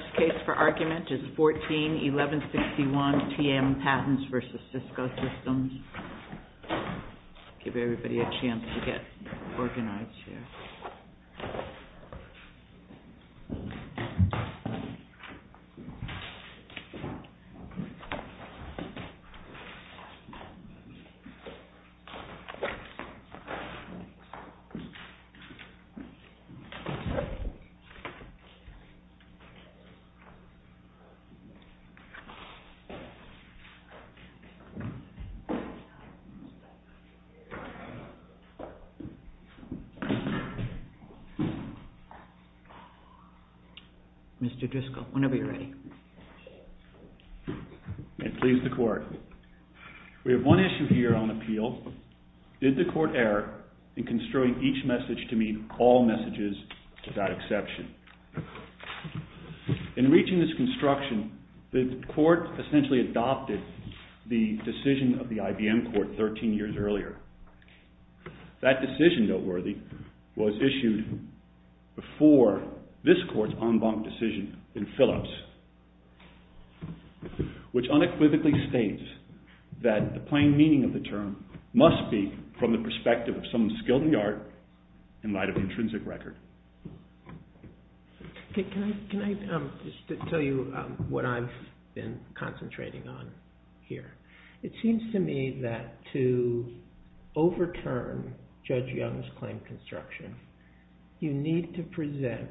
The I'll give everybody a chance to get organized here. Mr. Driscoll, whenever you're ready. May it please the Court. We have one issue here on appeal. Did the Court err in construing each message to meet all messages without exception? In reaching this construction, the Court essentially adopted the decision of the IBM Court 13 years earlier. That decision, noteworthy, was issued before this Court's en banc decision in Phillips, which unequivocally states that the plain meaning of the term must be from the perspective of someone skilled in the art in light of intrinsic record. Can I just tell you what I've been concentrating on here? It seems to me that to overturn Judge Young's claim construction, you need to present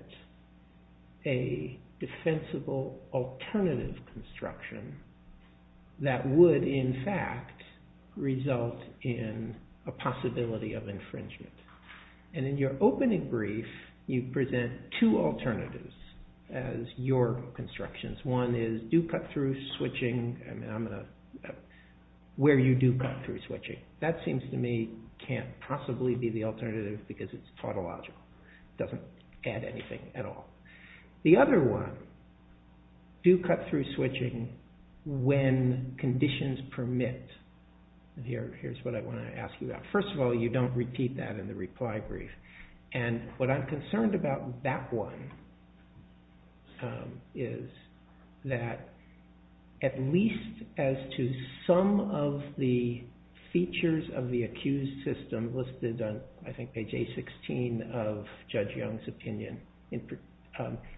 a defensible alternative construction that would, in fact, result in a possibility of infringement. And in your opening brief, you present two alternatives as your constructions. One is where you do cut through switching. That seems to me can't possibly be the alternative because it's tautological. It doesn't add anything at all. The other one, do cut through switching when conditions permit. Here's what I want to ask you about. First of all, you don't repeat that in the reply brief. And what I'm concerned about that one is that at least as to some of the features of the accused system listed on, I think, page A-16 of Judge Young's opinion,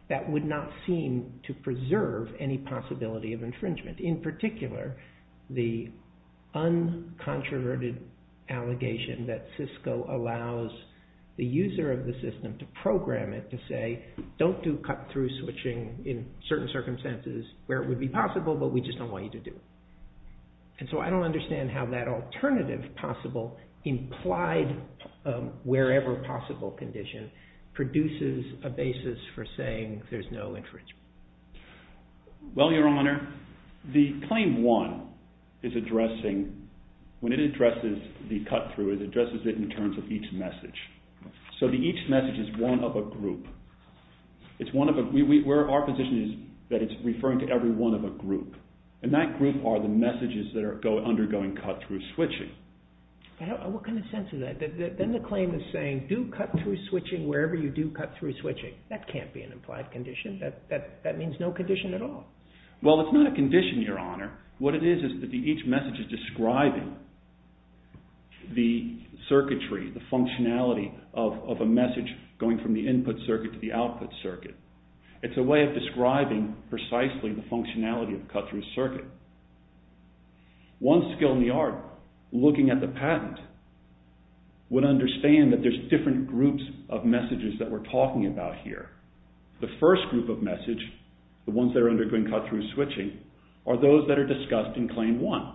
that would not seem to preserve any possibility of infringement. In particular, the uncontroverted allegation that Cisco allows the user of the system to program it to say don't do cut through switching in certain circumstances where it would be possible, but we just don't want you to do it. And so I don't understand how that alternative possible implied wherever possible condition produces a basis for saying there's no infringement. Well, Your Honor, the claim one is addressing, when it addresses the cut through, it addresses it in terms of each message. So each message is one of a group. Our position is that it's referring to every one of a group. And that group are the messages that are undergoing cut through switching. What kind of sense is that? Then the claim is saying do cut through switching wherever you do cut through switching. That can't be an implied condition. That means no condition at all. Well, it's not a condition, Your Honor. What it is is that each message is describing the circuitry, the functionality of a message going from the input circuit to the output circuit. It's a way of describing precisely the functionality of a cut through circuit. One skill in the art, looking at the patent, would understand that there's different groups of messages that we're talking about here. The first group of message, the ones that are undergoing cut through switching, are those that are discussed in claim one.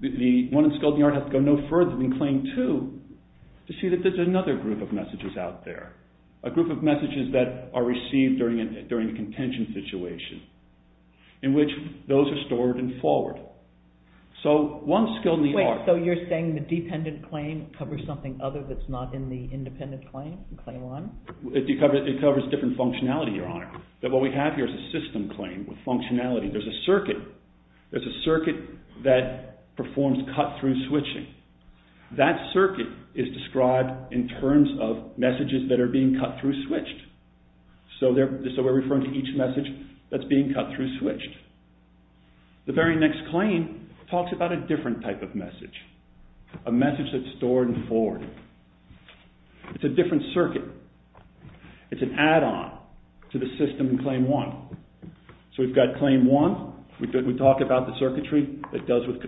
The one in skill in the art has to go no further than claim two to see that there's another group of messages out there, a group of messages that are received during a contention situation in which those are stored and forward. So one skill in the art... Wait, so you're saying the dependent claim covers something other that's not in the independent claim, claim one? It covers different functionality, Your Honor. What we have here is a system claim with functionality. There's a circuit that performs cut through switching. That circuit is described in terms of messages that are being cut through switched. So we're referring to each message that's being cut through switched. The very next claim talks about a different type of message, a message that's stored and forward. It's a different circuit. It's an add-on to the system in claim one. So we've got claim one. We talk about the circuitry that deals with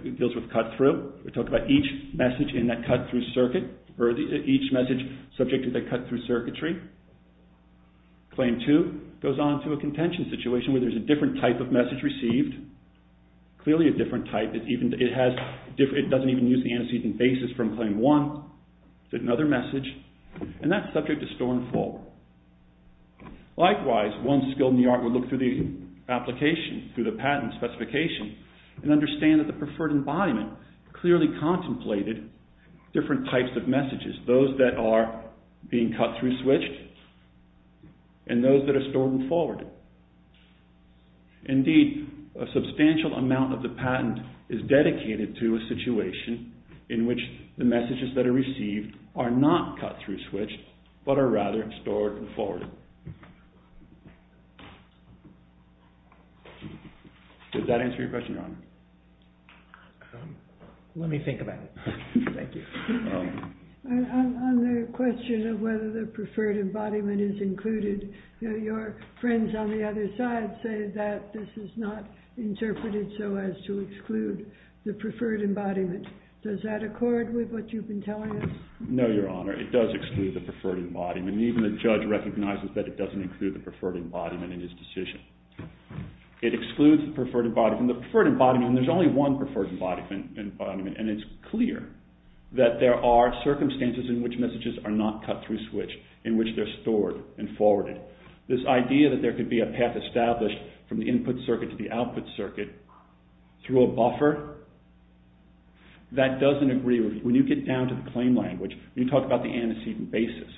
cut through. We talk about each message in that cut through circuit or each message subject to that cut through circuitry. Claim two goes on to a contention situation where there's a different type of message received, clearly a different type. It doesn't even use the antecedent basis from claim one. It's another message, and that's subject to store and forward. Likewise, one skill in the art would look through the application, through the patent specification, and understand that the preferred embodiment clearly contemplated different types of messages, those that are being cut through switched and those that are stored and forward. Indeed, a substantial amount of the patent is dedicated to a situation in which the messages that are received are not cut through switched but are rather stored and forward. Does that answer your question, Your Honor? Let me think about it. Thank you. On the question of whether the preferred embodiment is included, your friends on the other side say that this is not interpreted so as to exclude the preferred embodiment. Does that accord with what you've been telling us? No, Your Honor. It does exclude the preferred embodiment. Even the judge recognizes that it doesn't include the preferred embodiment in his decision. It excludes the preferred embodiment. In the preferred embodiment, there's only one preferred embodiment, and it's clear that there are circumstances in which messages are not cut through switched, in which they're stored and forwarded. This idea that there could be a path established from the input circuit to the output circuit through a buffer, that doesn't agree with... When you get down to the claim language, when you talk about the antecedent basis,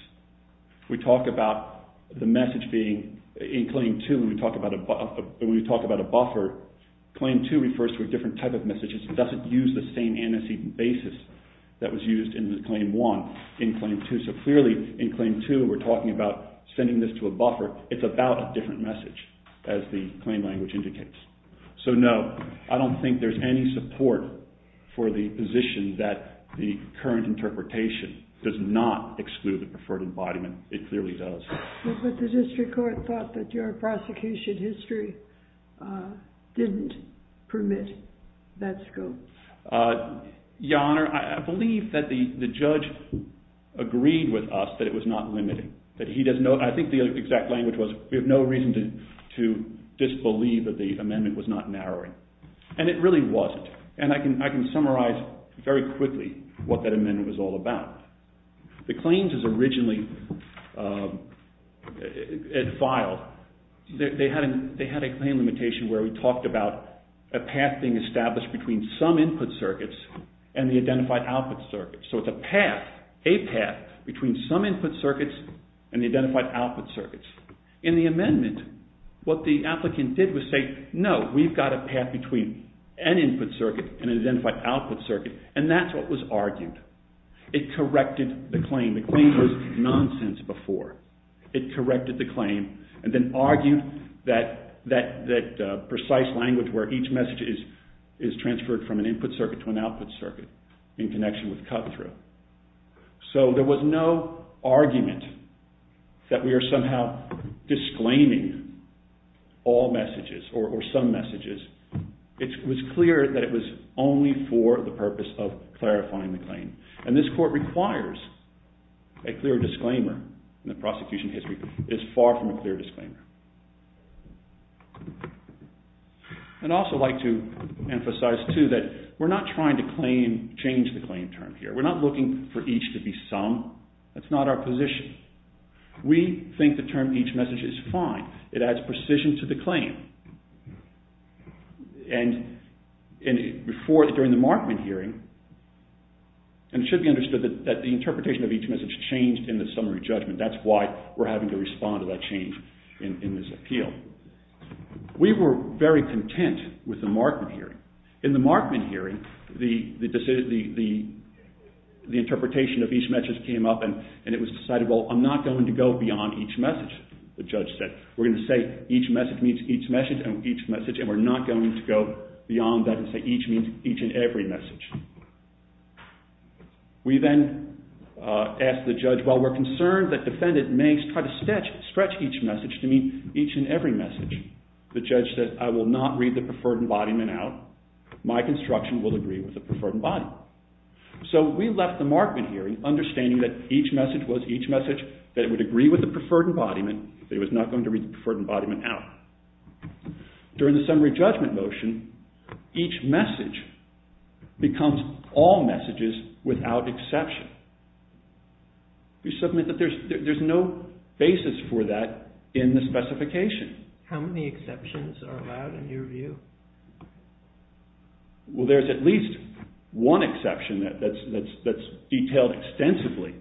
we talk about the message being... In Claim 2, when we talk about a buffer, Claim 2 refers to a different type of message. It doesn't use the same antecedent basis that was used in Claim 1 in Claim 2. So clearly, in Claim 2, we're talking about sending this to a buffer. It's about a different message, as the claim language indicates. So no, I don't think there's any support for the position that the current interpretation does not exclude the preferred embodiment. It clearly does. But the district court thought that your prosecution history didn't permit that scope. Your Honour, I believe that the judge agreed with us that it was not limiting. I think the exact language was, we have no reason to disbelieve that the amendment was not narrowing. And it really wasn't. And I can summarize very quickly what that amendment was all about. The claims as originally filed, they had a claim limitation where we talked about a path being established between some input circuits and the identified output circuits. So it's a path, a path, between some input circuits and the identified output circuits. In the amendment, what the applicant did was say, no, we've got a path between an input circuit and an identified output circuit. And that's what was argued. It corrected the claim. The claim was nonsense before. It corrected the claim and then argued that precise language where each message is transferred from an input circuit to an output circuit in connection with cutthroat. So there was no argument that we are somehow disclaiming all messages or some messages. It was clear that it was only for the purpose of clarifying the claim. And this court requires a clear disclaimer in the prosecution history. It's far from a clear disclaimer. And I'd also like to emphasize too that we're not trying to change the claim term here. We're not looking for each to be some. That's not our position. We think the term each message is fine. It adds precision to the claim. And during the Markman hearing, and it should be understood that the interpretation of each message changed in the summary judgment. That's why we're having to respond to that change in this appeal. We were very content with the Markman hearing. In the Markman hearing, the interpretation of each message came up and it was decided, well, I'm not going to go beyond each message, the judge said. We're going to say each message means each message and we're not going to go beyond that and say each means each and every message. We then asked the judge, while we're concerned that the defendant may try to stretch each message to mean each and every message, the judge said, I will not read the preferred embodiment out. My construction will agree with the preferred embodiment. So we left the Markman hearing understanding that each message was each message, that it would agree with the preferred embodiment, that it was not going to read the preferred embodiment out. During the summary judgment motion, each message becomes all messages without exception. We submit that there's no basis for that in the specification. How many exceptions are allowed in your view? Well, there's at least one exception that's detailed extensively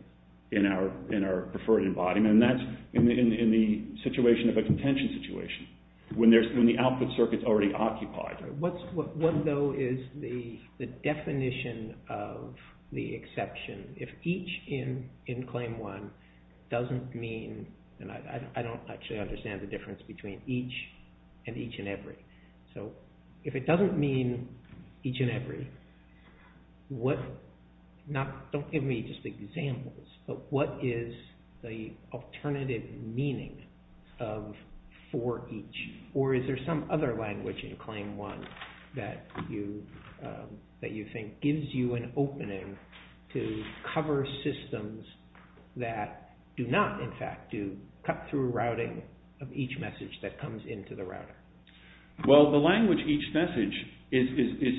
in our preferred embodiment and that's in the situation of a contention situation, when the output circuit's already occupied. What though is the definition of the exception? If each in claim one doesn't mean, and I don't actually understand the difference between each and each and every. So if it doesn't mean each and every, don't give me just examples, but what is the alternative meaning of for each? Or is there some other language in claim one that you think gives you an opening to cover systems that do not in fact do cut through routing of each message that comes into the router? Well, the language each message is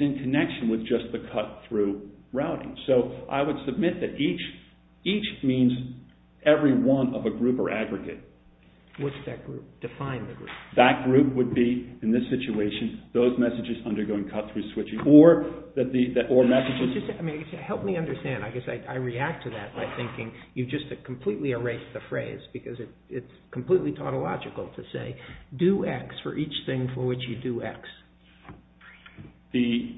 in connection with just the cut through routing. So I would submit that each means every one of a group or aggregate. What's that group? Define the group. That group would be, in this situation, those messages undergoing cut through switching or messages... Help me understand. I guess I react to that by thinking you've just completely erased the phrase because it's completely tautological to say do X for each thing for which you do X. The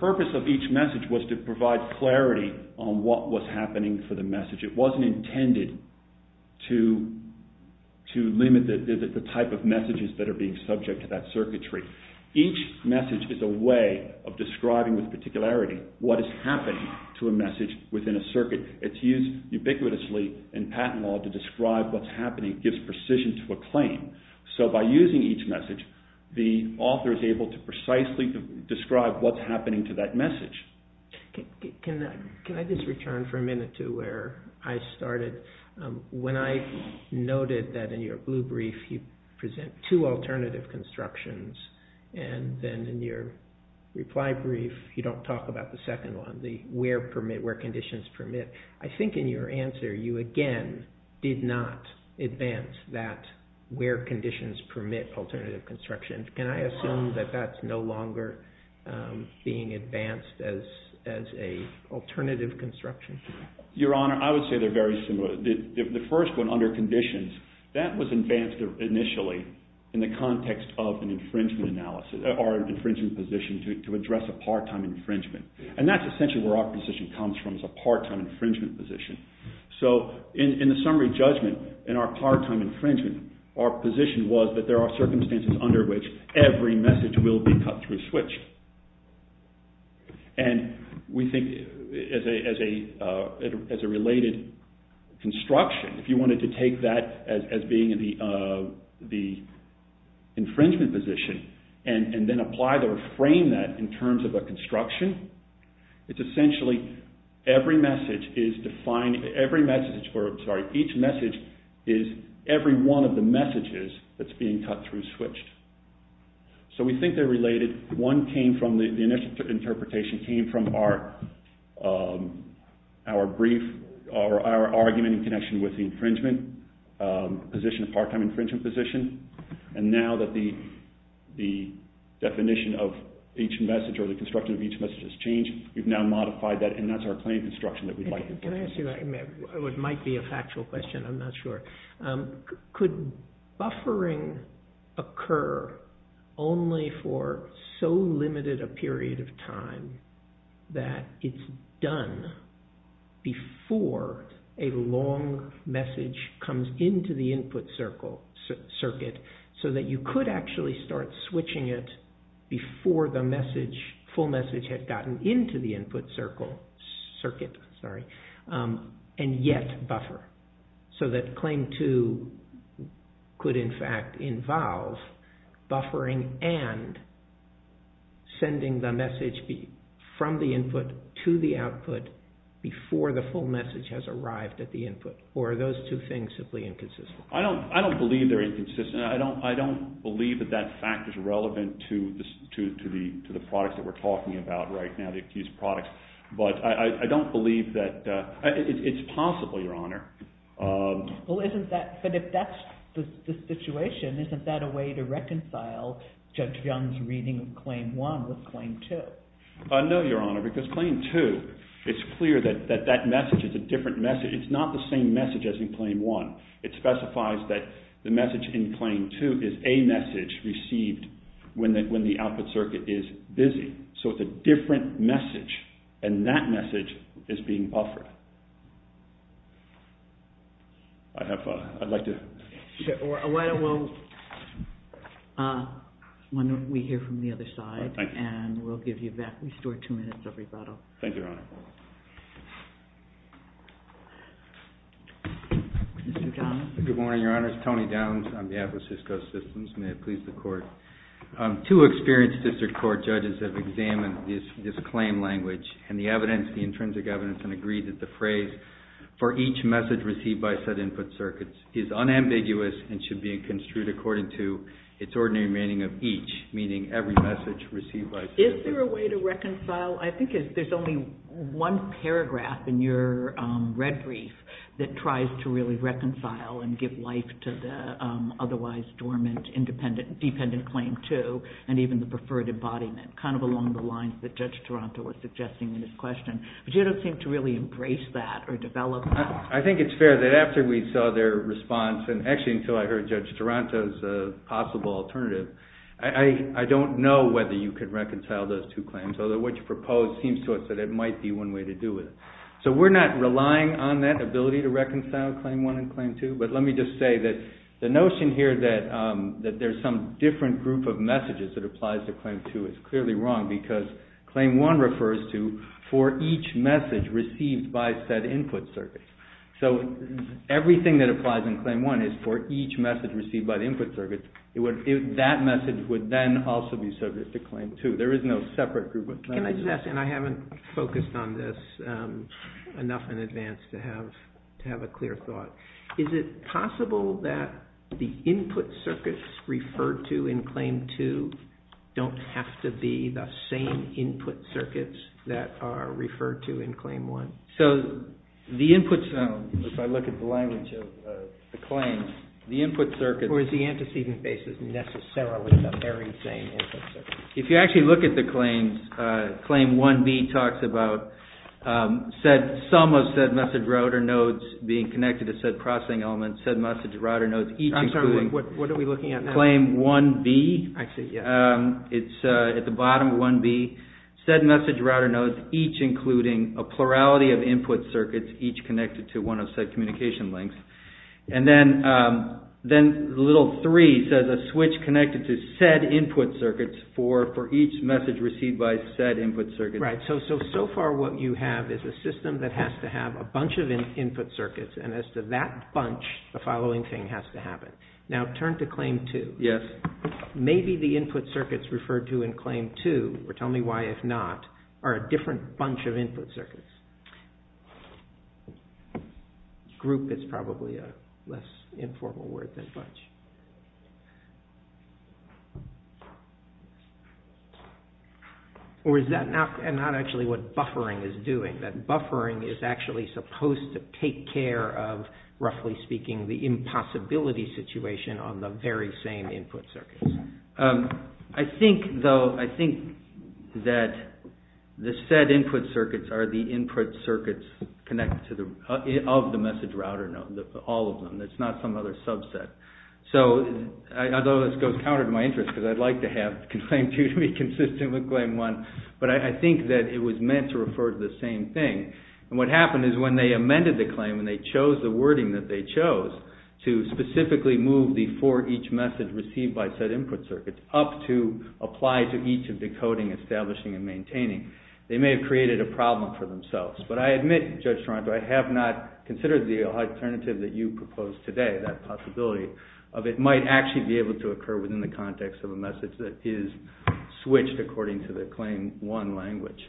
purpose of each message was to provide clarity on what was happening for the message. It wasn't intended to limit the type of messages that are being subject to that circuitry. Each message is a way of describing with particularity what is happening to a message within a circuit. It's used ubiquitously in patent law to describe what's happening. It gives precision to a claim. So by using each message, the author is able to precisely describe what's happening to that message. Can I just return for a minute to where I started? When I noted that in your blue brief you present two alternative constructions and then in your reply brief you don't talk about the second one, the where conditions permit, I think in your answer you again did not advance that where conditions permit alternative construction. Can I assume that that's no longer being advanced as an alternative construction? Your Honor, I would say they're very similar. The first one, under conditions, that was advanced initially in the context of an infringement analysis or an infringement position to address a part-time infringement. And that's essentially where our position comes from is a part-time infringement position. So in the summary judgment in our part-time infringement our position was that there are circumstances under which every message will be cut through switch. And we think as a related construction if you wanted to take that as being the infringement position and then apply or frame that in terms of a construction it's essentially every message is defined every message, sorry, each message is every one of the messages that's being cut through switch. So we think they're related. One came from the initial interpretation came from our brief or our argument in connection with the infringement position, part-time infringement position and now that the definition of each message or the construction of each message has changed we've now modified that and that's our claim construction that we'd like to focus on. It might be a factual question, I'm not sure. Could buffering occur only for so limited a period of time that it's done before a long message comes into the input circuit so that you could actually start switching it before the full message had gotten into the input circuit and yet buffer so that claim two could in fact involve buffering and sending the message from the input to the output before the full message has arrived at the input or are those two things simply inconsistent? I don't believe they're inconsistent I don't believe that that fact is relevant to the products that we're talking about right now these products but I don't believe that it's possible, Your Honor. But if that's the situation isn't that a way to reconcile Judge Young's reading of claim one with claim two? No, Your Honor, because claim two it's clear that that message is a different message it's not the same message as in claim one it specifies that the message in claim two is a message received when the output circuit is busy so it's a different message and that message is being buffered I'd like to... Why don't we hear from the other side and we'll restore two minutes of rebuttal Thank you, Your Honor Mr. Downs Good morning, Your Honor It's Tony Downs on behalf of Cisco Systems May it please the Court Two experienced district court judges have examined this claim language and the evidence the intrinsic evidence and agreed that the phrase for each message received by said input circuits is unambiguous and should be construed according to its ordinary meaning of each meaning every message received by Cisco Is there a way to reconcile I think there's only one paragraph in your red brief that tries to really reconcile and give life to the otherwise dormant independent dependent claim two and even the preferred embodiment kind of along the lines that Judge Taranto was suggesting in his question but you don't seem to really embrace that or develop that I think it's fair that after we saw their response and actually until I heard Judge Taranto's possible alternative I don't know whether you could reconcile those two claims although what you propose seems to us that it might be one way to do it so we're not relying on that ability to reconcile claim one and claim two but let me just say that the notion here that there's some different group of messages that applies to claim two is clearly wrong because claim one refers to for each message received by said input circuit so everything that applies in claim one is for each message received by the input circuit that message would then also be subject to claim two there is no separate group of messages Can I just ask and I haven't focused on this enough in advance to have to have a clear thought is it possible that the input circuits referred to in claim two don't have to be the same input circuits that are referred to in claim one so the input circuit if I look at the language of the claim the input circuit or is the antecedent basis necessarily the very same input circuit if you actually look at the claims claim 1b talks about said some of said message router nodes being connected to said processing element said message router nodes each including I'm sorry, what are we looking at now? claim 1b I see, yeah it's at the bottom 1b said message router nodes each including a plurality of input circuits each connected to one of said communication links and then then little three says a switch connected to said input circuits for each message received by said input circuit right, so far what you have is a system that has to have a bunch of input circuits and as to that bunch the following thing has to happen now turn to claim 2 yes maybe the input circuits referred to in claim 2 or tell me why if not are a different bunch of input circuits group is probably a less informal word than bunch or is that not and not actually what buffering is doing that buffering is actually supposed to take care of roughly speaking the impossibility situation on the very same input circuits I think though I think that the said input circuits are the input circuits connected to the of the message router node all of them it's not some other subset so although this goes counter to my interest because I'd like to have claim 2 to be consistent with claim 1 but I think that it was meant to refer to the same thing and what happened is when they amended the claim and they chose the wording that they chose to specifically move the for each message received by said input circuits up to apply to each of decoding establishing and maintaining they may have created a problem for themselves but I admit Judge Toronto I have not considered the alternative that you proposed today that possibility of it might actually be able to occur within the context of a message that is switched according to the claim one language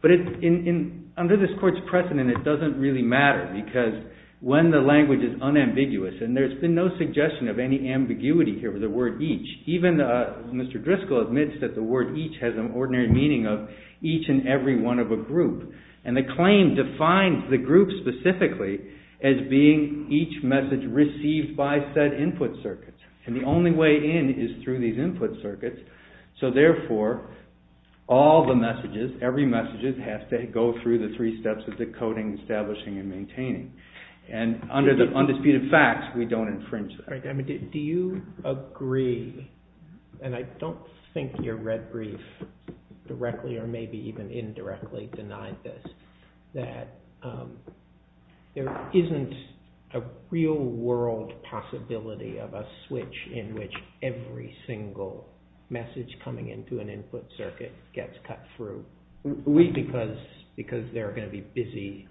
but in under this course precedent it doesn't really matter because when the language is unambiguous and there has been no suggestion of any ambiguity here for the word each even Mr. Driscoll admits that the word each has an ordinary meaning of each and every one of a group and the claim defines the group specifically as being each message received by said input circuits and the only way in is through these input circuits so therefore all the messages every message has to go through the three steps of decoding establishing and maintaining and under the undisputed facts we don't infringe that do you agree and I don't think your red brief directly or maybe even indirectly denied this that there isn't a real world possibility of a switch in which every single message coming into an input circuit gets cut through we because because there are going to be busy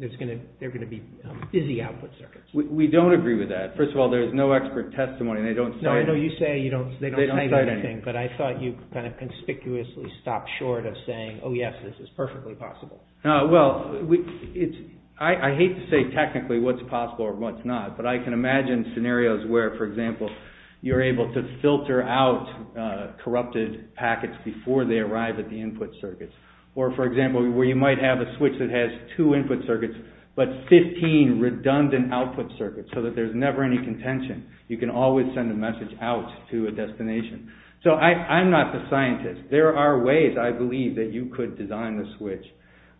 there's going to be busy output circuits we don't agree with that first of all there's no expert testimony they don't say anything but I thought you kind of conspicuously stopped short of saying oh yes this is perfectly possible well I hate to say technically what's possible or what's not but I can imagine scenarios where for example you're able to filter out corrupted packets before they arrive at the input circuits or for example where you might have a switch that has two input circuits but 15 redundant output circuits so that there's never any contention you can always send a message out to a destination so I'm not the scientist there are ways I believe that you could design a switch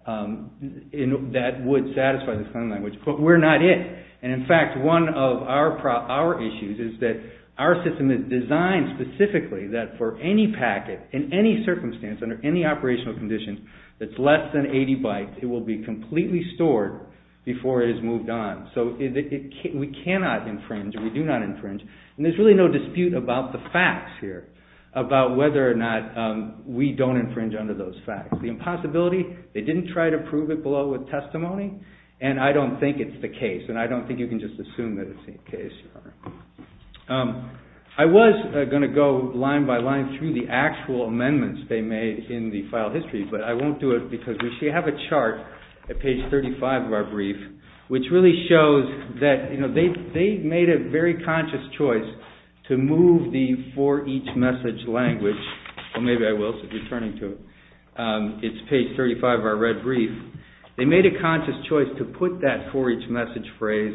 that would satisfy the sign language but we're not it and in fact one of our issues is that our system is designed specifically that for any packet in any circumstance under any operational conditions that's less than 80 bytes it will be completely stored before it is moved on so we cannot infringe we do not infringe and there's really no dispute about the facts here about whether or not we don't infringe under those facts the impossibility they didn't try to prove it below with testimony and I don't think it's the case and I don't think you can just assume that it's the case I was going to go line by line through the actual amendments they made in the file history but I won't do it because we should have a chart at page 35 of our brief which really shows that they made a very conscious choice to move the for each message language well maybe I will since you're turning to it it's page 35 of our red brief they made a conscious choice to put that for each message phrase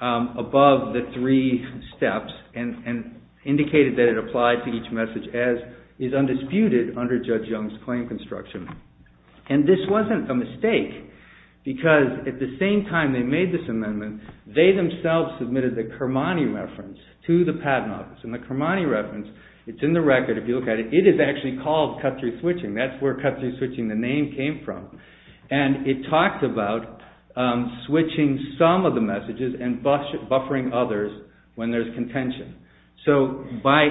above the three steps and indicated that it applied to each message as is undisputed under Judge Young's claim construction and this wasn't a mistake because at the same time they made this amendment they themselves submitted the Kermani reference to the patent office and the Kermani reference it's in the record if you look at it it is actually called cut-through switching that's where cut-through switching the name came from and it talks about switching some of the messages and buffering others when there's contention so by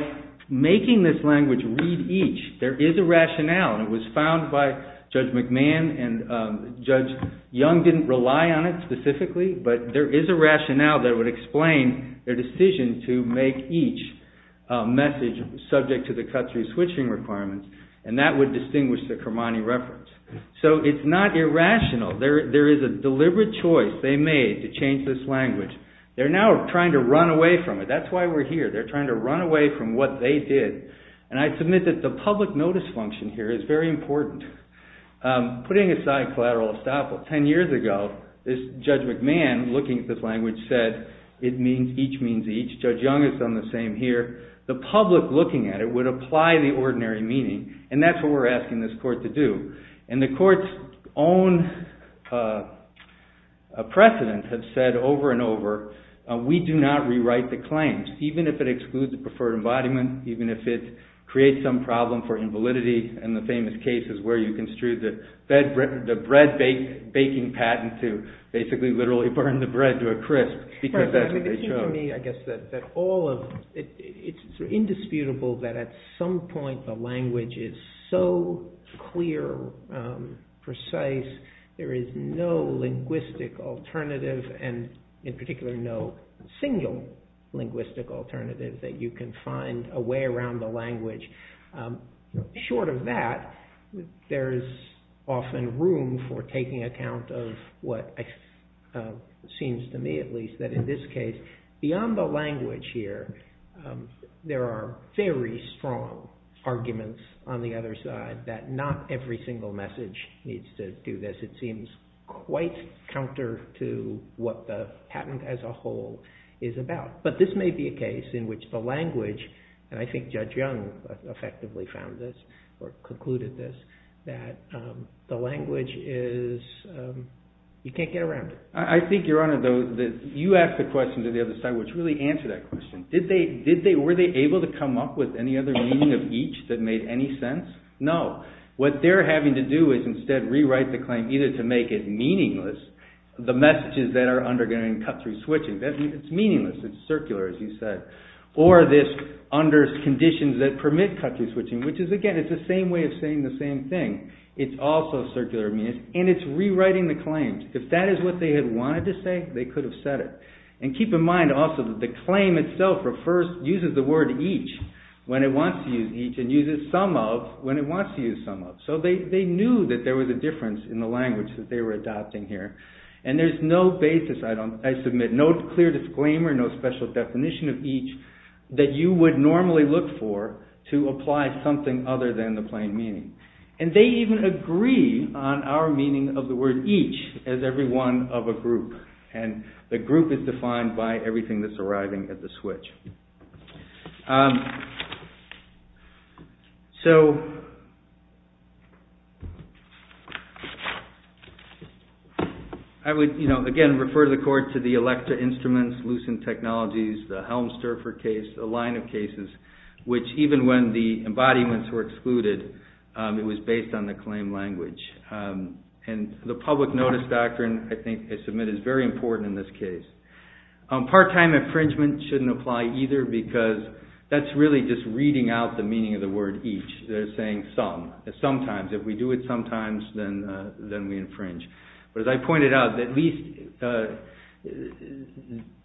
making this language read each there is a rationale and it was found by Judge McMahon and Judge Young didn't rely on it specifically but there is a rationale that would explain their decision to make each message subject to the cut-through switching requirements and that would distinguish the Kermani reference so it's not irrational there is a deliberate choice they made to change this language they're now trying to run away from it that's why we're here they're trying to run away from what they did and I submit that the public notice function here is very important putting aside collateral estoppel ten years ago Judge McMahon looking at this language said it means each means each Judge Young has done the same here the public looking at it would apply the ordinary meaning and that's what we're asking this court to do and the court's own precedent has said over and over we do not rewrite the claims even if it excludes the preferred embodiment even if it creates some problem for invalidity in the famous cases where you construed the bread baking patent to basically literally burn the bread to a crisp because that's what they showed it's indisputable that at some point the language is so clear precise there is no linguistic alternative and in particular no single linguistic alternative that you can find a way around the language short of that there is often room for taking account of what seems to me at least that in this case beyond the language here there are very strong arguments on the other side that not every single message needs to do this it seems quite counter to what the patent as a whole is about but this may be a case in which the language and I think Judge Young effectively found this or concluded this that the language is you can't get around it I think your honor though you asked the question to the other side which I don't really answer that question did they were they able to come up with any other meaning of each that made any sense no what they're having to do is instead rewrite the claim either to make it meaningless the messages that are undergoing cut through switching it's meaningless it's circular as you said or this under conditions that permit cut through switching which is again it's the same way of saying the same thing it's also circular and it's rewriting the claims if that is what they had wanted to say they could have said it and keep in mind also that the claim itself refers uses the word each when it wants to use each and uses some of when it wants to use some of so they knew that there was a difference in the language that they were adopting here and there's no basis I submit no clear disclaimer no special definition of each that you would normally look for to apply something other than the plain meaning and they even agree on our meaning of the word each as every one of a group and the group is defined by everything that's arriving at the switch so I would you know again refer to the court to the electra instruments lucent technologies the helm surfer case the line of cases which even when the embodiments were excluded it was based on the claim language and the public notice doctrine I think I submit is very important in this case part-time infringement shouldn't apply either because that's really just reading out the meaning of the word each they're saying some sometimes if we do it sometimes then we infringe but as I pointed out at least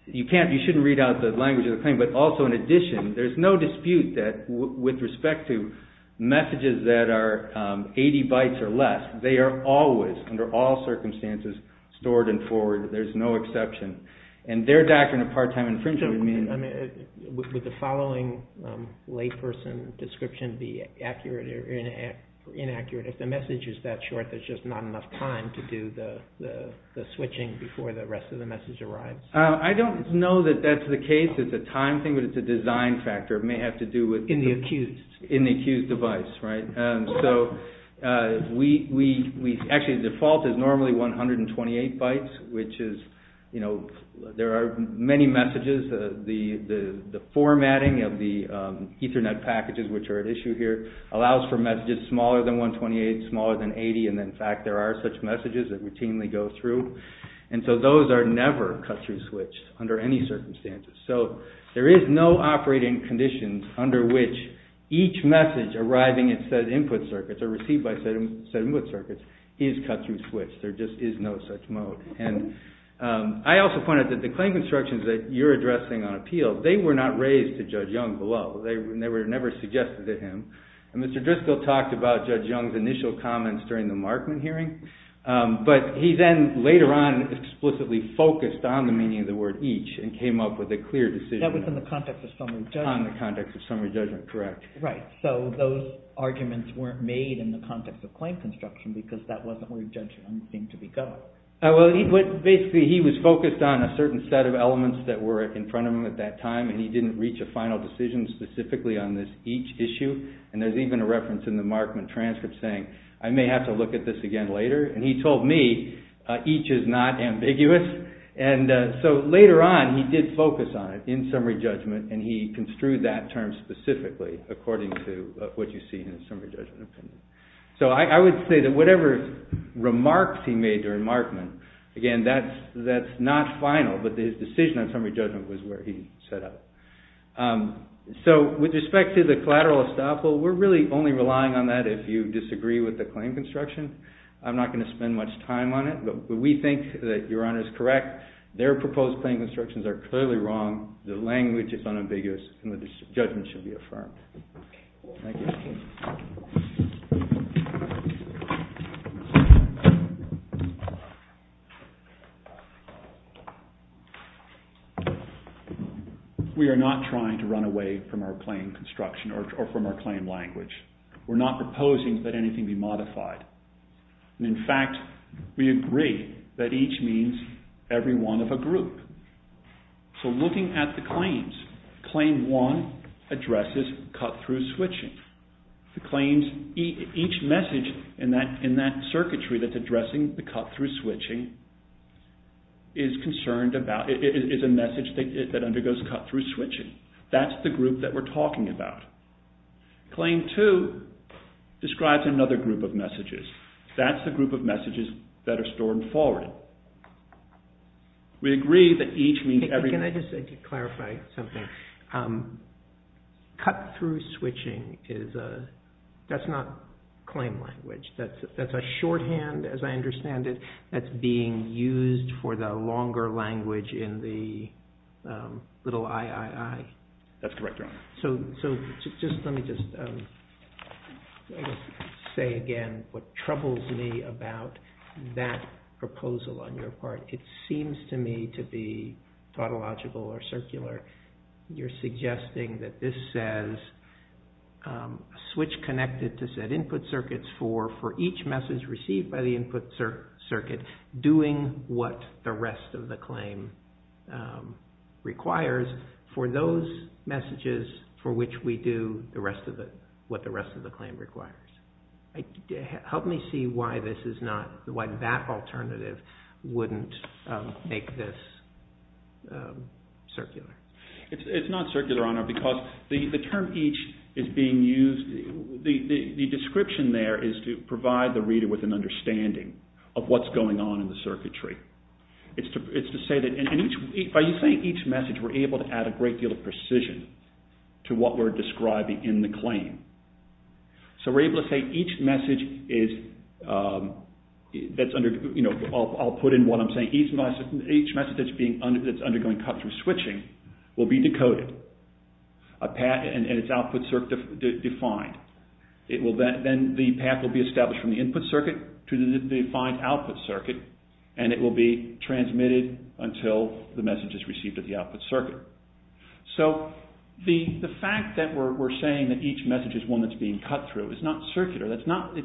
you can't you shouldn't read out the language of the claim but also in addition there's no dispute that with respect to messages that are 80 bytes or less they are always under all circumstances stored and forwarded there's no exception and their doctrine of part-time infringement would mean would the following layperson description be accurate or inaccurate if the message is that short there's just not enough time to do the switching before the rest of the message arrives I don't know that that's the case it's a time thing but it's a design factor it may have to do with in the accused in the accused device right so we actually default is normally 128 bytes which is you know there are many messages the formatting of the ethernet packages which are at issue here allows for messages smaller than 128 smaller than 80 and in fact there are such messages that routinely go through and so those are never cut through switch under any circumstances so there is no operating conditions under which each message arriving at said input circuits are received by said input circuits is cut through switch there just is no such mode and I also pointed out that the claim constructions that you're addressing on appeal they were not raised to him and Mr. Driscoll talked about Judge Young's initial comment during the Markman hearing but he then later on explicitly focused on the words each and came up with a clear decision on the context of summary judgment correct right so those arguments were not made in the context of claim construction because that wasn't where Judge Young seemed to be going basically he was focused on a certain set of elements that were in front of him at that time and he didn't reach a final decision specifically on this each issue and there's even a reference in the Markman transcript saying I may have to look at this again later and he told me each is not ambiguous and so later on he did focus on it in summary judgment and he construed that term specifically according to what you see in the summary judgment opinion. So I would say that whatever remarks he made during Markman again that's not final but his decision on summary judgment was where he set up. So with respect to the collateral estoppel we're really only relying on that if you disagree with the claim construction. I'm not going to spend much time on it but we think that Your Honor is correct their proposed claim constructions are clearly wrong, the language is unambiguous and the judgment should be affirmed. Thank you. We are not trying to run away from our claim construction or from our claim language. modified and in fact we agree that each means every one of a group. So we're not trying to run away from our claim construction or from our claim language. So looking at the claims, claim one addresses cut through switching. Each message in that circuitry that's addressing the cut through switching is a message that undergoes cut through switching. That's the group that we're talking about. Claim two describes another group of claims. Can I just clarify something? Cut through switching is a that's not claim language. That's a shorthand as I understand it that's being used for the longer language in the little I I I. That's correct. So just let me just say again what troubles me about that proposal on your part. It seems to me to be tautological or circular. You're suggesting that this says switch connected to set input circuits for for each message received by the input circuit doing what the rest of the claim requires for those messages for which we do the rest of the what the claim for each message. That alternative wouldn't make this circular. It's not circular because the term each is being used the description there is to provide the reader with an understanding of what's going on in the circuitry. It's to say each message we're able to add a great deal of precision to what we're describing in the claim. So we're able to say each message is I'll put in what I'm saying each message that's undergoing cut-through switching will be decoded and its output circuit defined. Then the path will be established from the input circuit to the defined output circuit and it will be transmitted until the message is received at the output circuit. So the fact that we're saying that each message is being cut-through is not circular. Each message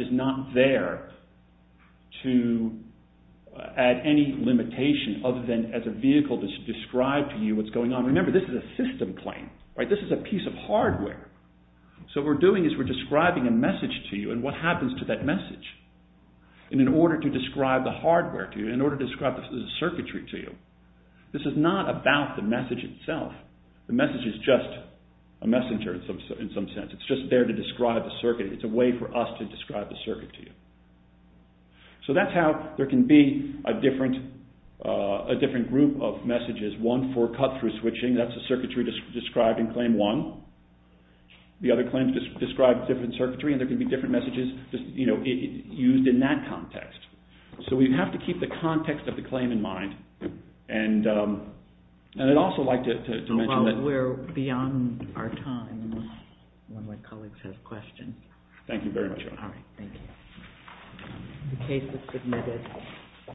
is not there to add any limitation other than as a vehicle to describe to you what's going on. Remember this is a system claim. This is a piece of hardware. So what we're doing is we're describing a message to you and what happens to that message? In order to describe the hardware to you, in order to describe the circuitry to you, this is not about the message itself. The message is just a messenger in some sense. It's just there to describe the circuit. It's a way for us to describe the circuit to you. So that's how there can be a different group of messages. One for cut-through and one for distance. We have to keep the context of the claim in mind. I would also like to mention that... I think that's the time. Thank you. Thank you. The case is submitted.